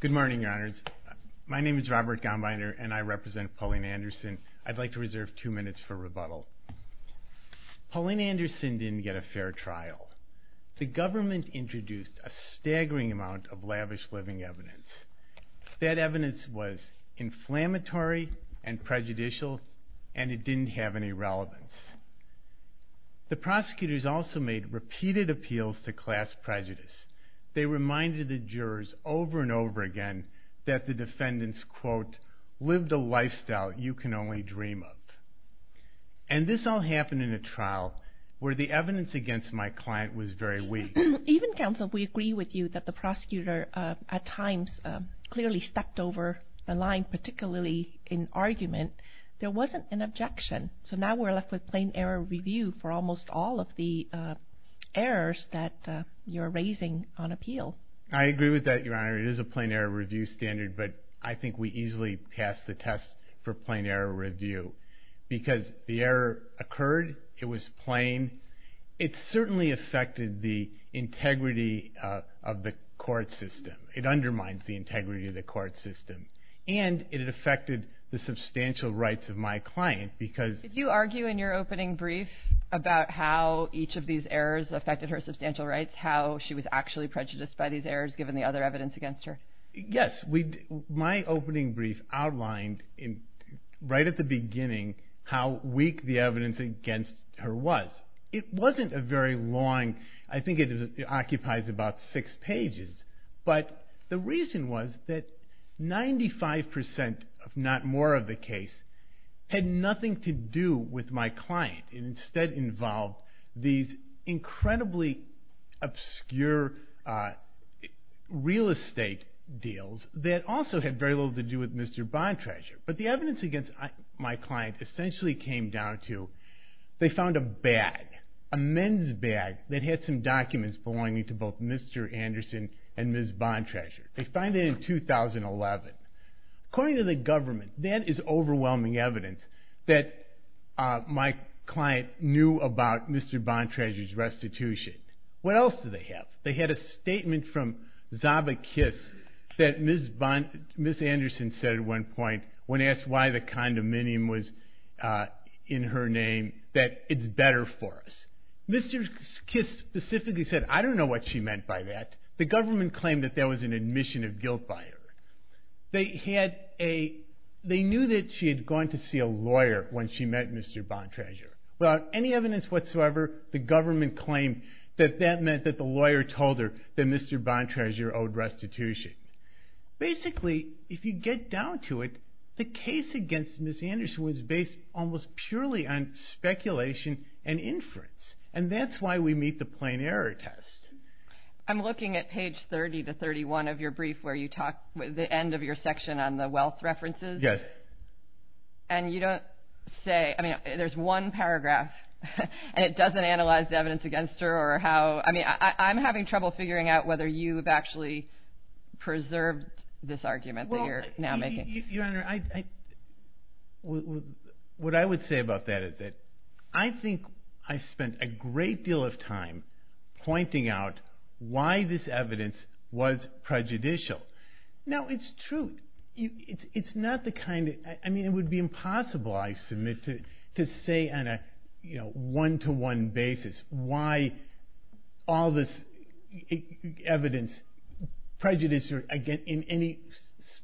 Good morning, your honors. My name is Robert Gombiner and I represent Pauline Anderson. I'd like to reserve two minutes for rebuttal. Pauline Anderson didn't get a fair trial. The government introduced a staggering amount of lavish living evidence. That evidence was inflammatory and prejudicial and it didn't have any relevance. The prosecutors also made repeated appeals to class prejudice. They reminded the jurors over and over again that the defendants, quote, lived a lifestyle you can only dream of. And this all happened in a trial where the evidence against my client was very weak. Even counsel, we agree with you that the prosecutor at times clearly stepped over the line, particularly in argument. There wasn't an objection. So now we're left with plain error review for almost all of the errors that you're raising on appeal. Robert Gombiner I agree with that, your honor. It is a plain error review standard, but I think we easily pass the test for plain error review. Because the error occurred, it was plain. It certainly affected the integrity of the court system. It undermines the integrity of the court system. And it affected the substantial rights of my client because... Pauline Anderson Did you argue in your opening brief about how each of these errors affected her substantial rights? How she was actually prejudiced by these errors given the other evidence against her? Robert Gombiner Yes. My opening brief outlined right at the beginning how weak the evidence against her was. It wasn't a very long... I think it occupies about six pages. But the reason was that 95% if not more of the case had nothing to do with my client. It instead involved these incredibly obscure real estate deals that also had very little to do with Mr. Bontrager. But the evidence against my client essentially came down to they found a bag, a men's bag, that had some documents belonging to both Mr. Anderson and Ms. Bontrager. They found it in 2011. According to the government, that is overwhelming evidence that my client knew about Mr. Bontrager's restitution. What else did they have? They had a statement from Zaba Kiss that Ms. Anderson said at one point when asked why the condominium was in her name that it's better for us. Mr. Kiss specifically said, I don't know what she meant by that. The government claimed that that was an admission of guilt by her. They knew that she had gone to see a lawyer when she met Mr. Bontrager. Without any evidence whatsoever, the government claimed that that meant that the lawyer told her that Mr. Bontrager owed restitution. Basically, if you get down to it, the case against Ms. Anderson was based almost purely on speculation and inference. And that's why we meet the plain error test. I'm looking at page 30 to 31 of your brief where you talk with the end of your section on the wealth references. And you don't say, I mean, there's one paragraph and it doesn't analyze the evidence against her or how, I mean, I'm having trouble figuring out whether you've actually preserved this argument that you're now making. Your Honor, what I would say about that is that I think I spent a great deal of time pointing out why this evidence was prejudicial. Now, it's true. It's not the kind of, I mean, it would be impossible, I submit, to say on a one-to-one basis why all this evidence prejudiced her in any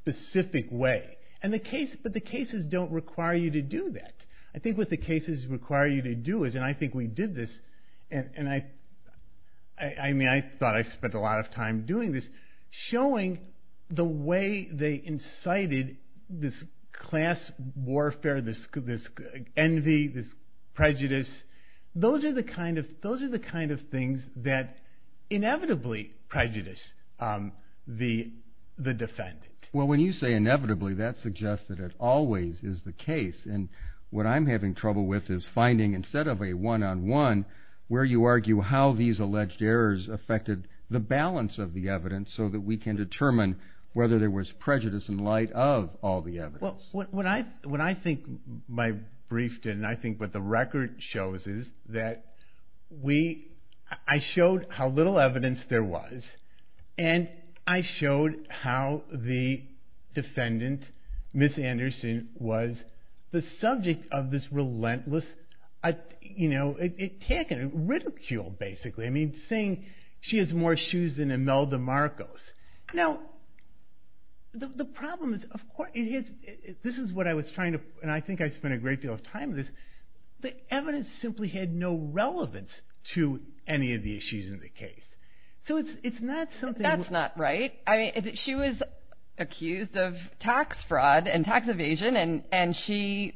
specific way. But the cases don't require you to do that. I think what the cases require you to do is, and I think we did this, and I mean, I thought I spent a lot of time doing this, showing the way they incited this class warfare, this envy, this prejudice. Those are the kind of things that inevitably prejudice the defendant. Well, when you say inevitably, that suggests that it always is the case. And what I'm having trouble with is finding, instead of a one-on-one, where you argue how these alleged errors affected the balance of the evidence so that we can determine whether there was prejudice in light of all the evidence. Well, what I think my brief did, and I think what the record shows, is that I showed how little evidence there was. And I showed how the defendant, Ms. Anderson, was the subject of this relentless, you know, attack and ridicule, basically. I mean, saying she has more shoes than Imelda Marcos. Now, the problem is, of course, this is what I was trying to, and I think I spent a great deal of time on this, the evidence simply had no relevance to any of the issues in the case. So it's not something... That's not right. I mean, she was accused of tax fraud and tax evasion, and she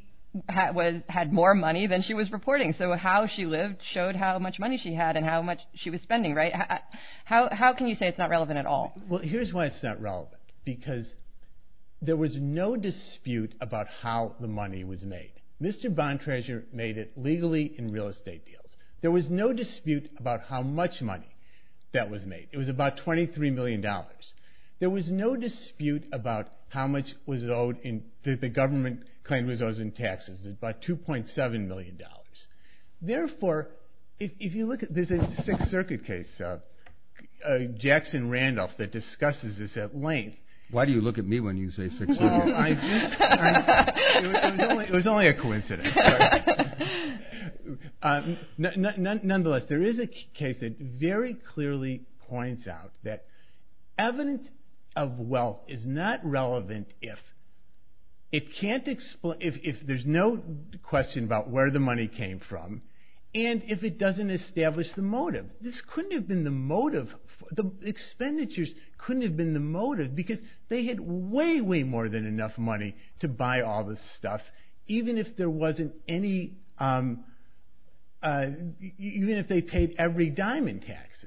had more money than she was reporting. So how she lived showed how much money she had and how much she was spending, right? How can you say it's not relevant at all? Well, here's why it's not relevant. Because there was no dispute about how the money was made. Mr. Bontrager made it legally in real estate deals. There was no dispute about how much money that was made. It was about $23 million. There was no dispute about how much was owed, that the government claimed was owed in taxes. It was about $2.7 million. Therefore, if you look at... There's a Sixth Circuit case, Jackson-Randolph, that discusses this at length. Why do you look at me when you say Sixth Circuit? Well, I just... It was only a coincidence. Nonetheless, there is a case that very clearly points out that evidence of wealth is not relevant if there's no question about where the money came from and if it doesn't establish the motive. This couldn't have been the motive. The expenditures couldn't have been the motive because they had way, way more than enough money to buy all this stuff, even if there wasn't any... even if they paid every dime in taxes.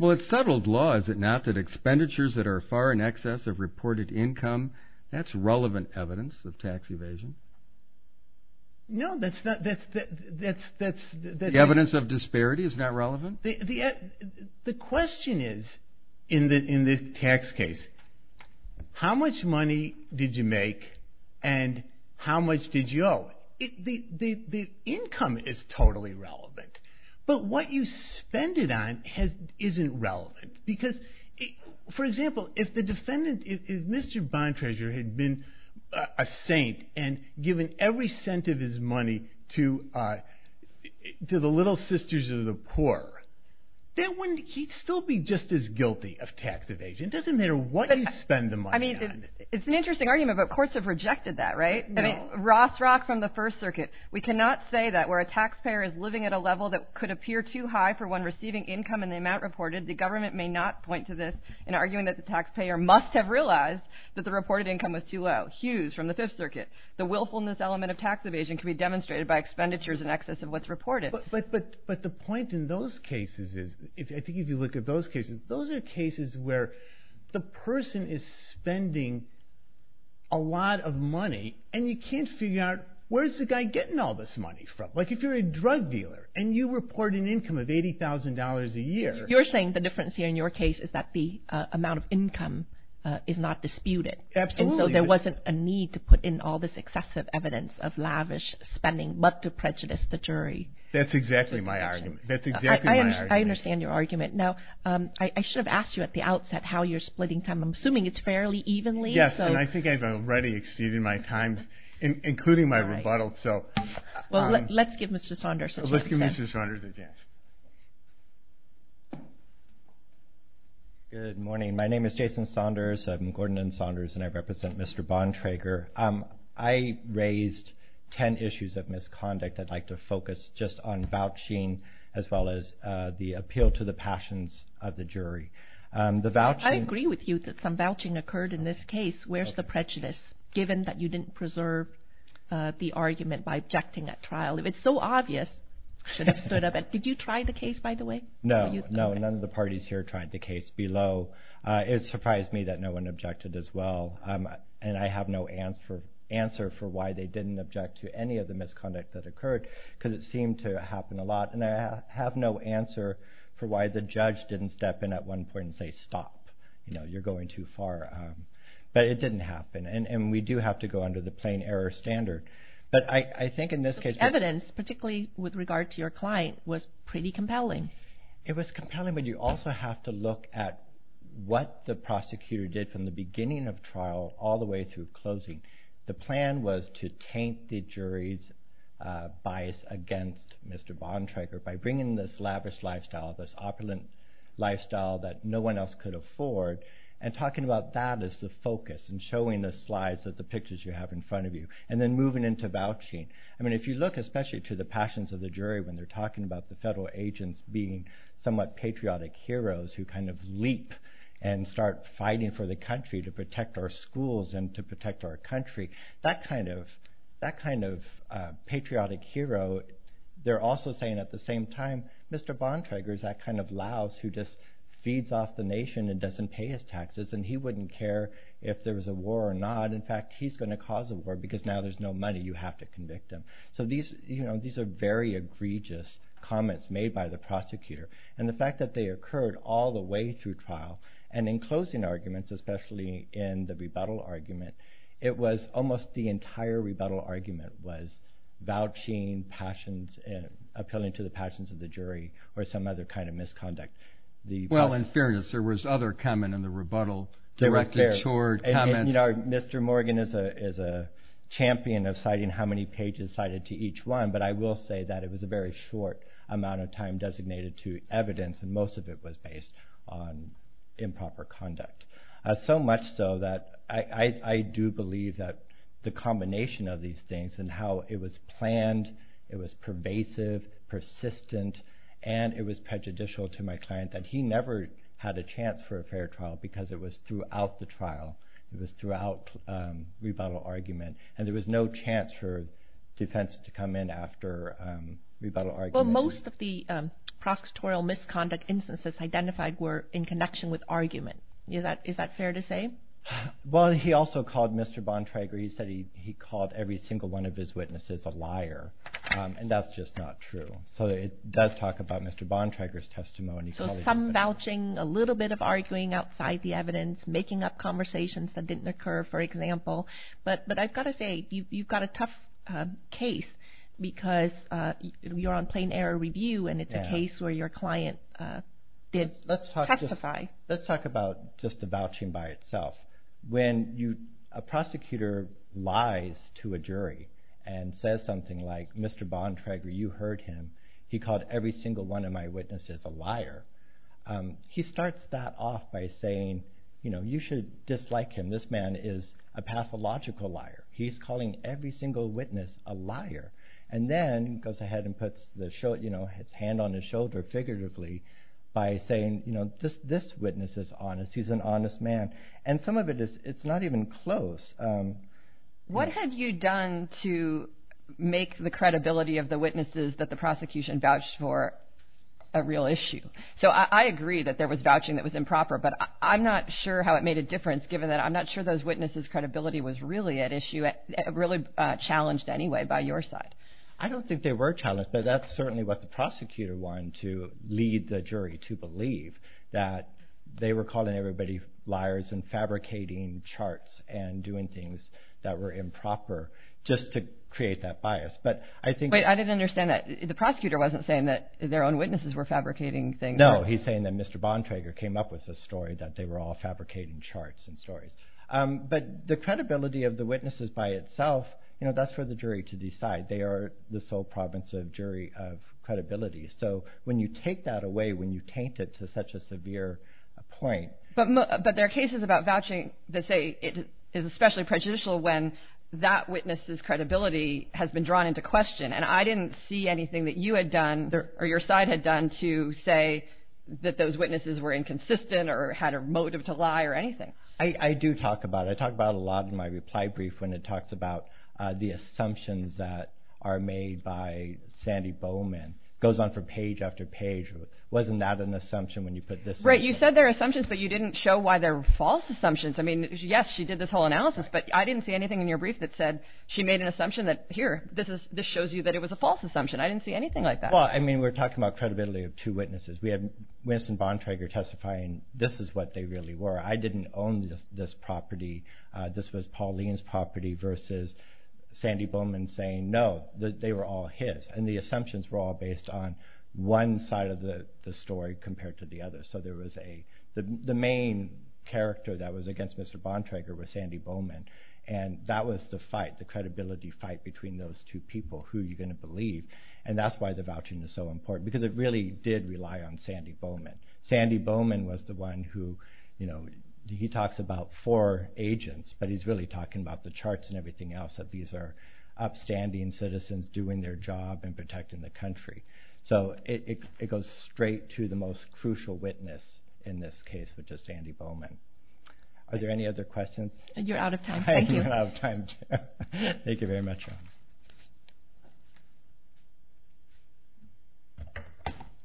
Well, it's settled law, is it not, that expenditures that are far in excess of reported income, that's relevant evidence of tax evasion. No, that's not... The evidence of disparity is not relevant? The question is, in this tax case, how much money did you make and how much did you owe? The income is totally relevant, but what you spend it on isn't relevant. Because, for example, if the defendant, if Mr. Bontrager had been a saint and given every cent of his money to the little sisters of the poor, he'd still be just as guilty of tax evasion. It doesn't matter what you spend the money on. I mean, it's an interesting argument, but courts have rejected that, right? I mean, Rothschild from the First Circuit, we cannot say that where a taxpayer is living at a level that could appear too high for one receiving income in the amount reported, the government may not point to this in arguing that the taxpayer must have realized that the reported income was too low. Hughes from the Fifth Circuit, the willfulness element of tax evasion can be demonstrated by expenditures in excess of what's reported. But the point in those cases is, I think if you look at those cases, those are cases where the person is spending a lot of money and you can't figure out where's the guy getting all this money from? Like if you're a drug dealer and you report an income of $80,000 a year... So you're saying the difference here in your case is that the amount of income is not disputed. Absolutely. And so there wasn't a need to put in all this excessive evidence of lavish spending, but to prejudice the jury. That's exactly my argument. That's exactly my argument. I understand your argument. Now, I should have asked you at the outset how you're splitting time. I'm assuming it's fairly evenly. Yes, and I think I've already exceeded my times, including my rebuttal, so... Well, let's give Mr. Saunders a chance. Good morning. My name is Jason Saunders. I'm Gordon Saunders, and I represent Mr. Bontrager. I raised ten issues of misconduct. I'd like to focus just on vouching as well as the appeal to the passions of the jury. I agree with you that some vouching occurred in this case. Where's the prejudice, given that you didn't preserve the argument by objecting at trial? If it's so obvious, you should have stood up. Did you try the case, by the way? No, none of the parties here tried the case below. It surprised me that no one objected as well, and I have no answer for why they didn't object to any of the misconduct that occurred because it seemed to happen a lot, and I have no answer for why the judge didn't step in at one point and say, stop, you're going too far. But it didn't happen, and we do have to go under the plain error standard. Evidence, particularly with regard to your client, was pretty compelling. It was compelling, but you also have to look at what the prosecutor did from the beginning of trial all the way through closing. The plan was to taint the jury's bias against Mr. Bontrager by bringing this lavish lifestyle, this opulent lifestyle that no one else could afford, and talking about that as the focus and showing the slides of the pictures you have in front of you and then moving into vouching. I mean, if you look especially to the passions of the jury when they're talking about the federal agents being somewhat patriotic heroes who kind of leap and start fighting for the country to protect our schools and to protect our country, that kind of patriotic hero, they're also saying at the same time, Mr. Bontrager is that kind of louse who just feeds off the nation and doesn't pay his taxes, and he wouldn't care if there was a war or not. In fact, he's going to cause a war because now there's no money. You have to convict him. So these are very egregious comments made by the prosecutor, and the fact that they occurred all the way through trial, and in closing arguments, especially in the rebuttal argument, it was almost the entire rebuttal argument was vouching passions, appealing to the passions of the jury or some other kind of misconduct. Well, in fairness, there was other comment in the rebuttal directed toward comments. You know, Mr. Morgan is a champion of citing how many pages cited to each one, but I will say that it was a very short amount of time designated to evidence, and most of it was based on improper conduct, so much so that I do believe that the combination of these things and how it was planned, it was pervasive, persistent, and it was prejudicial to my client that he never had a chance for a fair trial because it was throughout the trial. It was throughout rebuttal argument, and there was no chance for defense to come in after rebuttal argument. Well, most of the prosecutorial misconduct instances identified were in connection with argument. Is that fair to say? Well, he also called Mr. Bontrager. He said he called every single one of his witnesses a liar, and that's just not true. So it does talk about Mr. Bontrager's testimony. So some vouching, a little bit of arguing outside the evidence, making up conversations that didn't occur, for example. But I've got to say, you've got a tough case because you're on plain error review, and it's a case where your client did testify. Let's talk about just the vouching by itself. When a prosecutor lies to a jury and says something like, Mr. Bontrager, you heard him. He called every single one of my witnesses a liar. He starts that off by saying you should dislike him. This man is a pathological liar. He's calling every single witness a liar and then goes ahead and puts his hand on his shoulder figuratively by saying this witness is honest. He's an honest man, and some of it is not even close. What have you done to make the credibility of the witnesses that the prosecution vouched for a real issue? So I agree that there was vouching that was improper, but I'm not sure how it made a difference given that I'm not sure those witnesses' credibility was really challenged anyway by your side. I don't think they were challenged, but that's certainly what the prosecutor wanted to lead the jury to believe, that they were calling everybody liars and fabricating charts and doing things that were improper just to create that bias. Wait, I didn't understand that. The prosecutor wasn't saying that their own witnesses were fabricating things. No, he's saying that Mr. Bontrager came up with this story, that they were all fabricating charts and stories. But the credibility of the witnesses by itself, that's for the jury to decide. They are the sole province of jury of credibility. So when you take that away, when you taint it to such a severe point— But there are cases about vouching that say it is especially prejudicial when that witness' credibility has been drawn into question, and I didn't see anything that you had done or your side had done to say that those witnesses were inconsistent or had a motive to lie or anything. I do talk about it. I talk about it a lot in my reply brief when it talks about the assumptions that are made by Sandy Bowman. It goes on for page after page. Wasn't that an assumption when you put this— Right, you said they're assumptions, but you didn't show why they're false assumptions. I mean, yes, she did this whole analysis, but I didn't see anything in your brief that said she made an assumption that, here, this shows you that it was a false assumption. I didn't see anything like that. Well, I mean, we're talking about credibility of two witnesses. We had Winston Bontrager testifying this is what they really were. I didn't own this property. This was Pauline's property versus Sandy Bowman saying, no, they were all his, and the assumptions were all based on one side of the story compared to the other. The main character that was against Mr. Bontrager was Sandy Bowman, and that was the fight, the credibility fight between those two people, who are you going to believe, and that's why the vouching is so important because it really did rely on Sandy Bowman. Sandy Bowman was the one who—he talks about four agents, but he's really talking about the charts and everything else, that these are upstanding citizens doing their job and protecting the country. So it goes straight to the most crucial witness in this case, which is Sandy Bowman. Are there any other questions? You're out of time. Thank you. Thank you very much.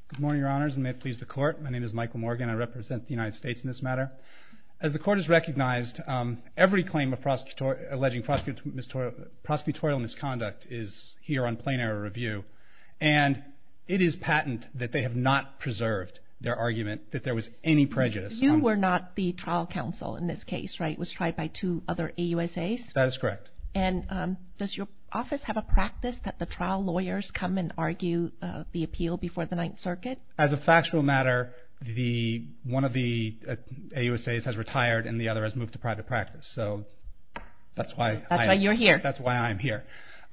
Good morning, Your Honors, and may it please the Court. My name is Michael Morgan. I represent the United States in this matter. As the Court has recognized, every claim alleging prosecutorial misconduct is here on plain error review, and it is patent that they have not preserved their argument that there was any prejudice. You were not the trial counsel in this case, right? It was tried by two other AUSAs? That is correct. And does your office have a practice that the trial lawyers come and argue the appeal before the Ninth Circuit? As a factual matter, one of the AUSAs has retired, and the other has moved to private practice. So that's why— That's why you're here. That's why I'm here.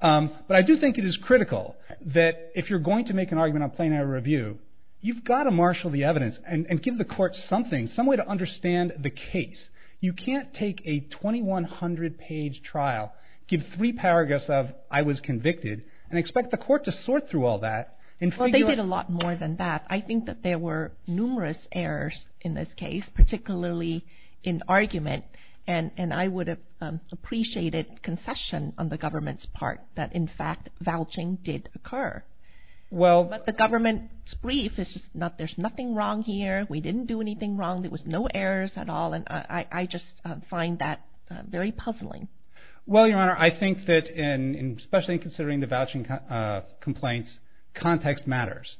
But I do think it is critical that if you're going to make an argument on plain error review, you've got to marshal the evidence and give the Court something, some way to understand the case. You can't take a 2,100-page trial, give three paragraphs of, I was convicted, and expect the Court to sort through all that and figure out— Well, they did a lot more than that. I think that there were numerous errors in this case, particularly in argument, and I would have appreciated concession on the government's part that, in fact, vouching did occur. Well— But the government's brief is just, there's nothing wrong here. We didn't do anything wrong. There was no errors at all, and I just find that very puzzling. Well, Your Honor, I think that, especially in considering the vouching complaints, context matters.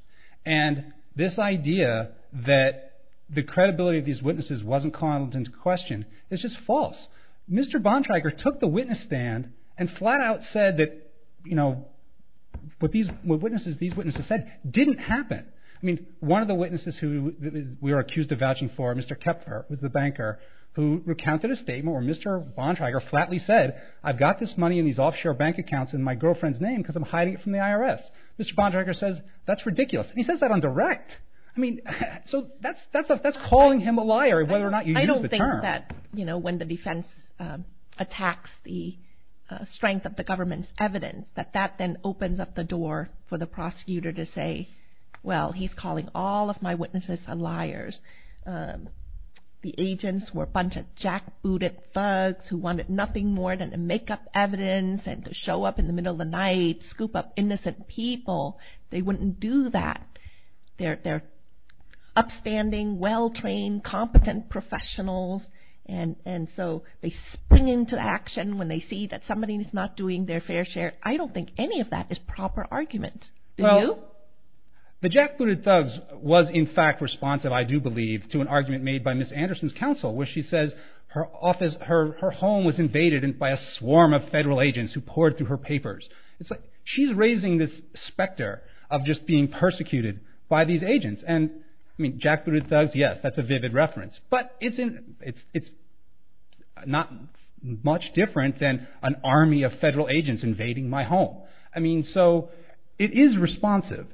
And this idea that the credibility of these witnesses wasn't called into question is just false. Mr. Bontrager took the witness stand and flat-out said that what these witnesses said didn't happen. I mean, one of the witnesses who we were accused of vouching for, Mr. Kepfer, was the banker, who recounted a statement where Mr. Bontrager flatly said, I've got this money in these offshore bank accounts in my girlfriend's name because I'm hiding it from the IRS. Mr. Bontrager says, that's ridiculous. And he says that on direct. I mean, so that's calling him a liar, whether or not you use the term. I don't think that, you know, when the defense attacks the strength of the government's evidence, that that then opens up the door for the prosecutor to say, well, he's calling all of my witnesses liars. The agents were a bunch of jackbooted thugs who wanted nothing more than to make up evidence and to show up in the middle of the night, scoop up innocent people. They wouldn't do that. They're upstanding, well-trained, competent professionals, and so they spring into action when they see that somebody is not doing their fair share. I don't think any of that is proper argument. Well, the jackbooted thugs was, in fact, responsive, I do believe, to an argument made by Ms. Anderson's counsel, where she says her home was invaded by a swarm of federal agents who poured through her papers. She's raising this specter of just being persecuted by these agents. And, I mean, jackbooted thugs, yes, that's a vivid reference. But it's not much different than an army of federal agents invading my home. I mean, so it is responsive.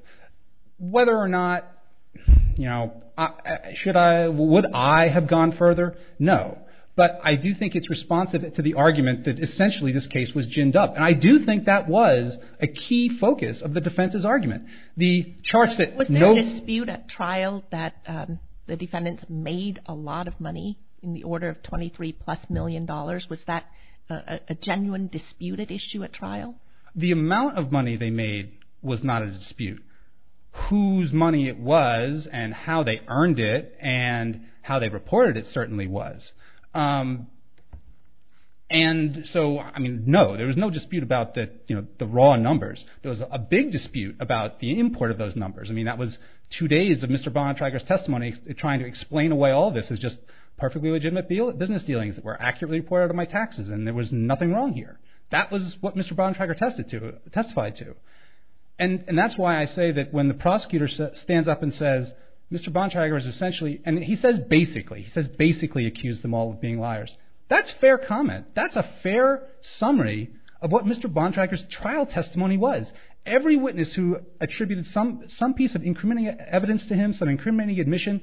Whether or not, you know, should I, would I have gone further? No. But I do think it's responsive to the argument that, essentially, this case was ginned up. And I do think that was a key focus of the defense's argument. Was there a dispute at trial that the defendants made a lot of money, in the order of $23-plus million? Was that a genuine disputed issue at trial? The amount of money they made was not a dispute. Whose money it was, and how they earned it, and how they reported it certainly was. And so, I mean, no, there was no dispute about the raw numbers. There was a big dispute about the import of those numbers. I mean, that was two days of Mr. Bontrager's testimony, trying to explain away all this as just perfectly legitimate business dealings that were accurately reported on my taxes, and there was nothing wrong here. That was what Mr. Bontrager testified to. And that's why I say that when the prosecutor stands up and says, Mr. Bontrager has essentially, and he says basically, he says basically accused them all of being liars. That's fair comment. That's a fair summary of what Mr. Bontrager's trial testimony was. Every witness who attributed some piece of incriminating evidence to him, some incriminating admission,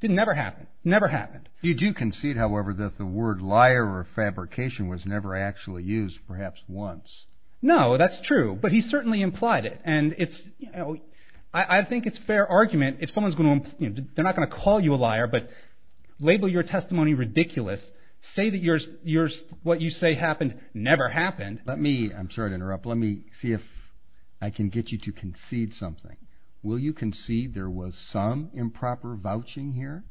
it never happened. Never happened. You do concede, however, that the word liar or fabrication was never actually used, perhaps once. No, that's true. But he certainly implied it, and I think it's fair argument. If someone's going to, they're not going to call you a liar, but label your testimony ridiculous, say that what you say happened never happened. Let me, I'm sorry to interrupt, let me see if I can get you to concede something. Will you concede there was some improper vouching here?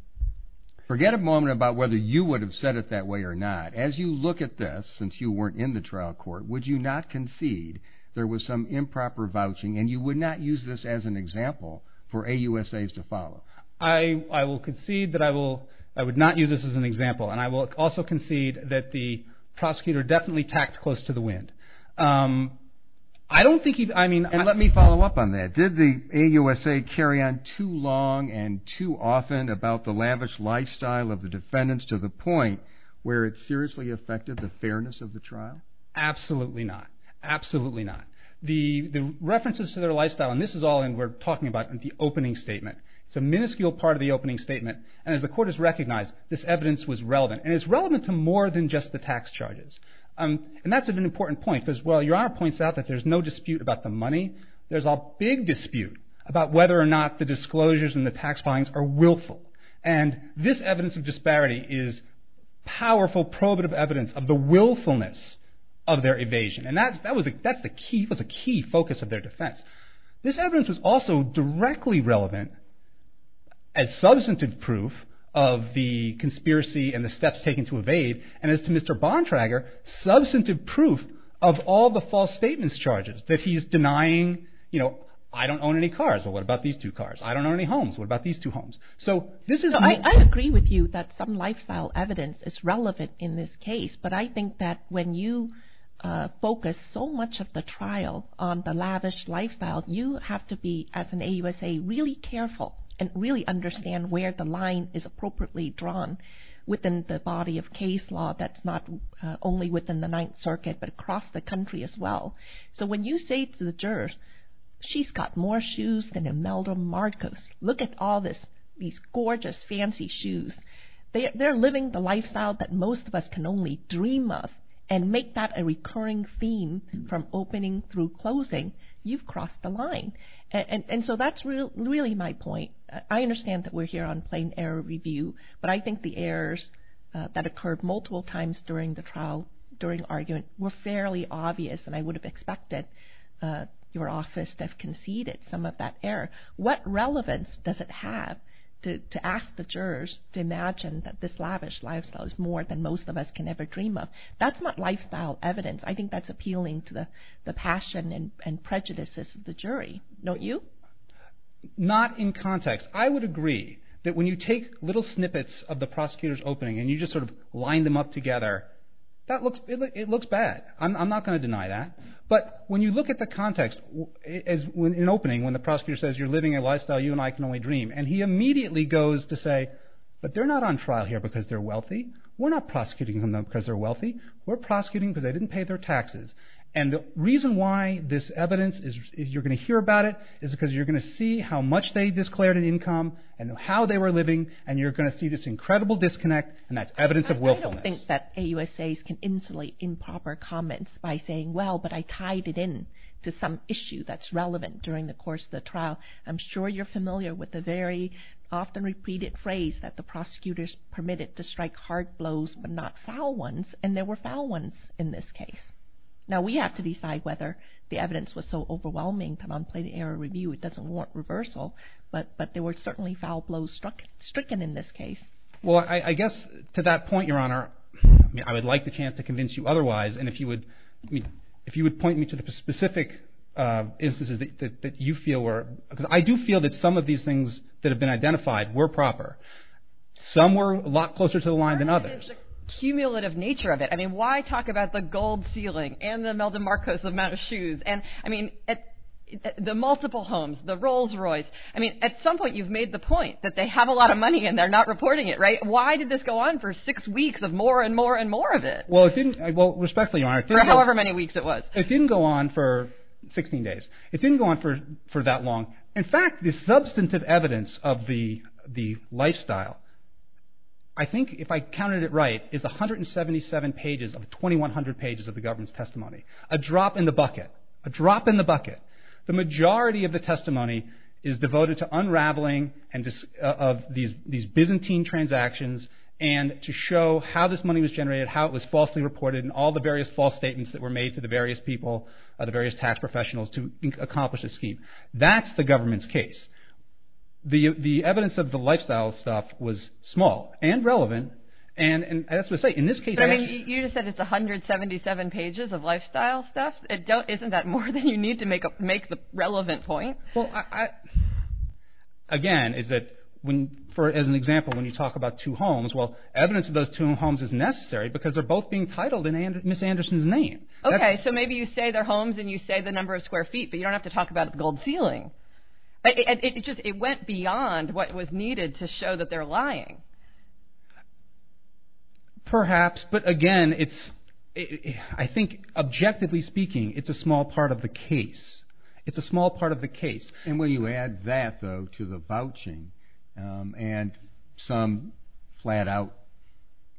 Forget a moment about whether you would have said it that way or not. As you look at this, since you weren't in the trial court, would you not concede there was some improper vouching, and you would not use this as an example for AUSAs to follow? I will concede that I will, I would not use this as an example, and I will also concede that the prosecutor definitely tacked close to the wind. I don't think he, I mean. And let me follow up on that. Did the AUSA carry on too long and too often about the lavish lifestyle of the defendants to the point where it seriously affected the fairness of the trial? Absolutely not. Absolutely not. The references to their lifestyle, and this is all we're talking about in the opening statement. It's a minuscule part of the opening statement, and as the court has recognized, this evidence was relevant. And it's relevant to more than just the tax charges. And that's an important point, because while Your Honor points out that there's no dispute about the money, there's a big dispute about whether or not the disclosures and the tax filings are willful. And this evidence of disparity is powerful, prohibitive evidence of the willfulness of their evasion. And that was a key focus of their defense. This evidence was also directly relevant as substantive proof of the conspiracy and the steps taken to evade, and as to Mr. Bontrager, substantive proof of all the false statements charges that he's denying. You know, I don't own any cars. Well, what about these two cars? I don't own any homes. What about these two homes? I agree with you that some lifestyle evidence is relevant in this case, but I think that when you focus so much of the trial on the lavish lifestyle, you have to be, as an AUSA, really careful and really understand where the line is appropriately drawn within the body of case law that's not only within the Ninth Circuit but across the country as well. So when you say to the jurors, she's got more shoes than Imelda Marcos, look at all these gorgeous, fancy shoes. They're living the lifestyle that most of us can only dream of and make that a recurring theme from opening through closing. You've crossed the line. And so that's really my point. I understand that we're here on plain error review, but I think the errors that occurred multiple times during the trial, during argument, were fairly obvious, and I would have expected your office to have conceded some of that error. What relevance does it have to ask the jurors to imagine that this lavish lifestyle is more than most of us can ever dream of? That's not lifestyle evidence. I think that's appealing to the passion and prejudices of the jury. Don't you? Not in context. I would agree that when you take little snippets of the prosecutor's opening and you just sort of line them up together, it looks bad. I'm not going to deny that. But when you look at the context in opening, when the prosecutor says you're living a lifestyle you and I can only dream, and he immediately goes to say, but they're not on trial here because they're wealthy. We're not prosecuting them because they're wealthy. We're prosecuting because they didn't pay their taxes. And the reason why this evidence is you're going to hear about it is because you're going to see how much they declared an income and how they were living, and you're going to see this incredible disconnect, and that's evidence of willfulness. I don't think that AUSAs can insulate improper comments by saying, well, but I tied it in to some issue that's relevant during the course of the trial. I'm sure you're familiar with the very often-repeated phrase that the prosecutors permitted to strike hard blows but not foul ones, and there were foul ones in this case. Now we have to decide whether the evidence was so overwhelming that on plain error review it doesn't warrant reversal, but there were certainly foul blows stricken in this case. Well, I guess to that point, Your Honor, I would like the chance to convince you otherwise, and if you would point me to the specific instances that you feel were, because I do feel that some of these things that have been identified were proper. Some were a lot closer to the line than others. There's a cumulative nature of it. I mean, why talk about the gold ceiling and the Meldon Marcos amount of shoes and the multiple homes, the Rolls Royce? I mean, at some point you've made the point that they have a lot of money and they're not reporting it, right? Why did this go on for six weeks of more and more and more of it? Well, respectfully, Your Honor, it didn't go on for 16 days. It didn't go on for that long. In fact, the substantive evidence of the lifestyle, I think if I counted it right, is 177 pages of 2,100 pages of the government's testimony, a drop in the bucket, a drop in the bucket. The majority of the testimony is devoted to unraveling of these Byzantine transactions and to show how this money was generated, how it was falsely reported, and all the various false statements that were made to the various people, the various tax professionals, to accomplish this scheme. That's the government's case. The evidence of the lifestyle stuff was small and relevant, and as I say, in this case... But, I mean, you just said it's 177 pages of lifestyle stuff. Isn't that more than you need to make the relevant point? Again, as an example, when you talk about two homes, well, evidence of those two homes is necessary because they're both being titled in Ms. Anderson's name. Okay, so maybe you say they're homes and you say the number of square feet, but you don't have to talk about the gold ceiling. It went beyond what was needed to show that they're lying. Perhaps, but again, I think, objectively speaking, it's a small part of the case. It's a small part of the case. And when you add that, though, to the vouching and some flat-out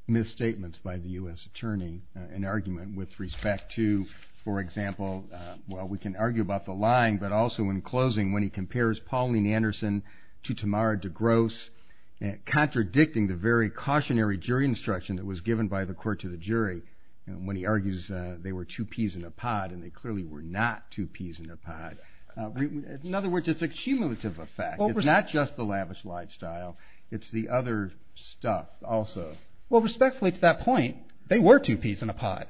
misstatements by the U.S. Attorney, an argument with respect to, for example, well, we can argue about the lying, but also in closing, when he compares Pauline Anderson to Tamara DeGrosse, contradicting the very cautionary jury instruction that was given by the court to the jury when he argues they were two peas in a pod, and they clearly were not two peas in a pod. In other words, it's a cumulative effect. It's not just the lavish lifestyle. It's the other stuff also. Well, respectfully, to that point, they were two peas in a pod.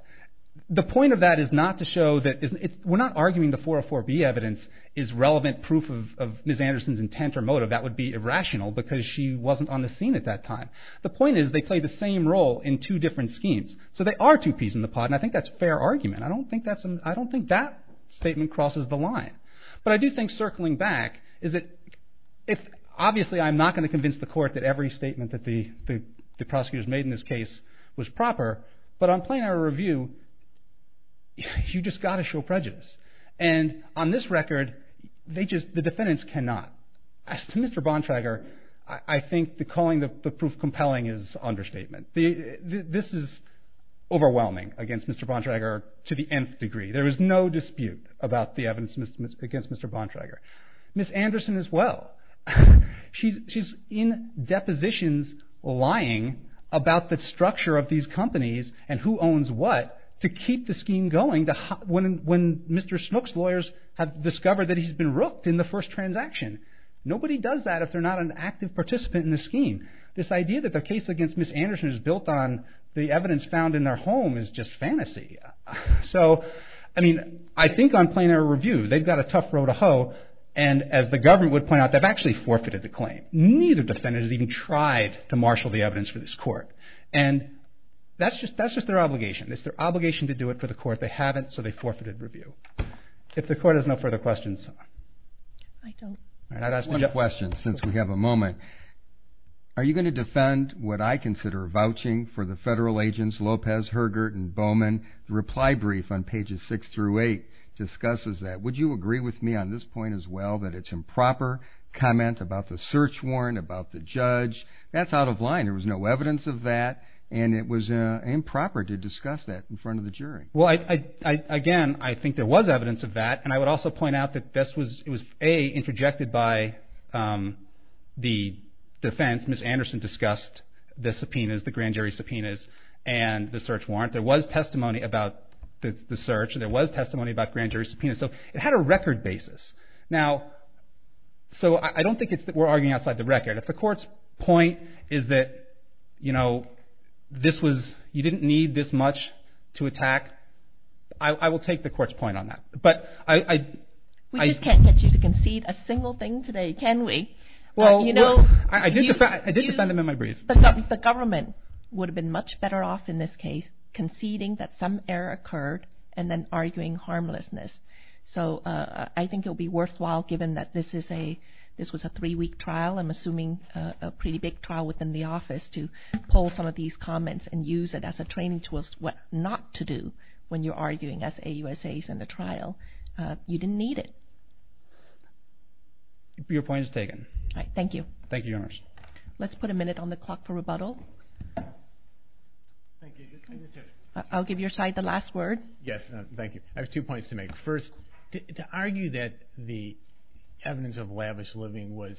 The point of that is not to show that we're not arguing the 404B evidence is relevant proof of Ms. Anderson's intent or motive. That would be irrational because she wasn't on the scene at that time. The point is they play the same role in two different schemes. So they are two peas in the pod, and I think that's a fair argument. I don't think that statement crosses the line. But I do think, circling back, obviously I'm not going to convince the court that every statement that the prosecutors made in this case was proper, but on plenary review, you've just got to show prejudice. And on this record, the defendants cannot. As to Mr. Bontrager, I think the calling the proof compelling is understatement. This is overwhelming against Mr. Bontrager to the nth degree. There is no dispute about the evidence against Mr. Bontrager. Ms. Anderson as well. She's in depositions lying about the structure of these companies and who owns what to keep the scheme going when Mr. Snook's lawyers have discovered that he's been rooked in the first transaction. Nobody does that if they're not an active participant in the scheme. This idea that the case against Ms. Anderson is built on the evidence found in their home is just fantasy. So I think on plenary review, they've got a tough row to hoe, and as the government would point out, they've actually forfeited the claim. Neither defendant has even tried to marshal the evidence for this court. And that's just their obligation. It's their obligation to do it for the court. They haven't, so they forfeited review. If the court has no further questions. I'd ask one question since we have a moment. Are you going to defend what I consider vouching for the federal agents Lopez, Hergert, and Bowman? The reply brief on pages 6 through 8 discusses that. Would you agree with me on this point as well, that it's improper comment about the search warrant, about the judge? That's out of line. There was no evidence of that, and it was improper to discuss that in front of the jury. Again, I think there was evidence of that, and I would also point out that this was A, interjected by the defense. Ms. Anderson discussed the subpoenas, the grand jury subpoenas, and the search warrant. There was testimony about the search, and there was testimony about grand jury subpoenas, so it had a record basis. Now, so I don't think we're arguing outside the record. If the court's point is that, you know, this was, you didn't need this much to attack, I will take the court's point on that. We just can't get you to concede a single thing today, can we? I did defend them in my brief. The government would have been much better off in this case conceding that some error occurred and then arguing harmlessness. So I think it would be worthwhile, given that this was a three-week trial, I'm assuming a pretty big trial within the office, to pull some of these comments and use it as a training tool when you're arguing as AUSAs in the trial. You didn't need it. Your point is taken. All right, thank you. Thank you, Your Honor. Let's put a minute on the clock for rebuttal. I'll give your side the last word. Yes, thank you. I have two points to make. First, to argue that the evidence of lavish living was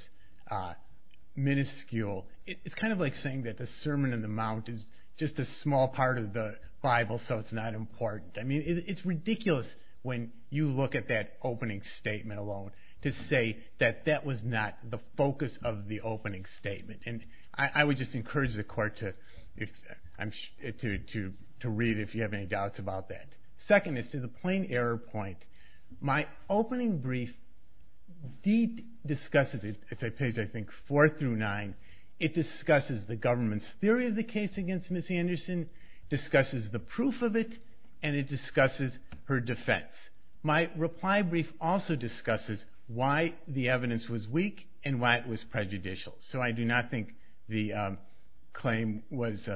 minuscule, it's kind of like saying that the Sermon on the Mount is just a small part of the Bible, so it's not important. I mean, it's ridiculous when you look at that opening statement alone to say that that was not the focus of the opening statement. I would just encourage the Court to read if you have any doubts about that. Second is to the plain error point. My opening brief discusses, it's on pages, I think, four through nine, it discusses the government's theory of the case against Ms. Anderson, discusses the proof of it, and it discusses her defense. My reply brief also discusses why the evidence was weak and why it was prejudicial. So I do not think the claim was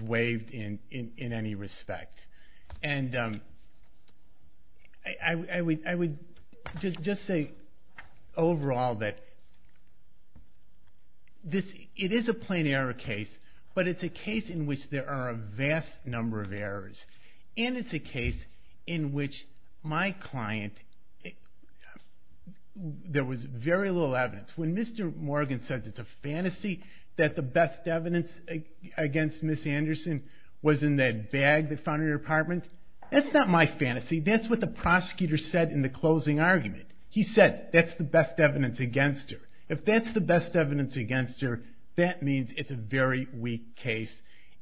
waived in any respect. And I would just say overall that it is a plain error case, but it's a case in which there are a vast number of errors, and it's a case in which my client, there was very little evidence. When Mr. Morgan says it's a fantasy that the best evidence against Ms. Anderson was in that bag that found in her apartment, that's not my fantasy. That's what the prosecutor said in the closing argument. He said that's the best evidence against her. If that's the best evidence against her, that means it's a very weak case.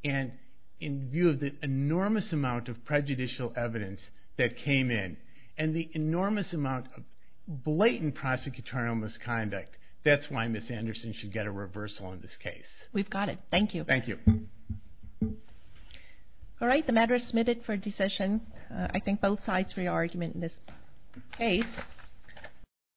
And in view of the enormous amount of prejudicial evidence that came in and the enormous amount of blatant prosecutorial misconduct, that's why Ms. Anderson should get a reversal on this case. We've got it. Thank you. Thank you. All right. The matter is submitted for decision. I thank both sides for your argument in this case.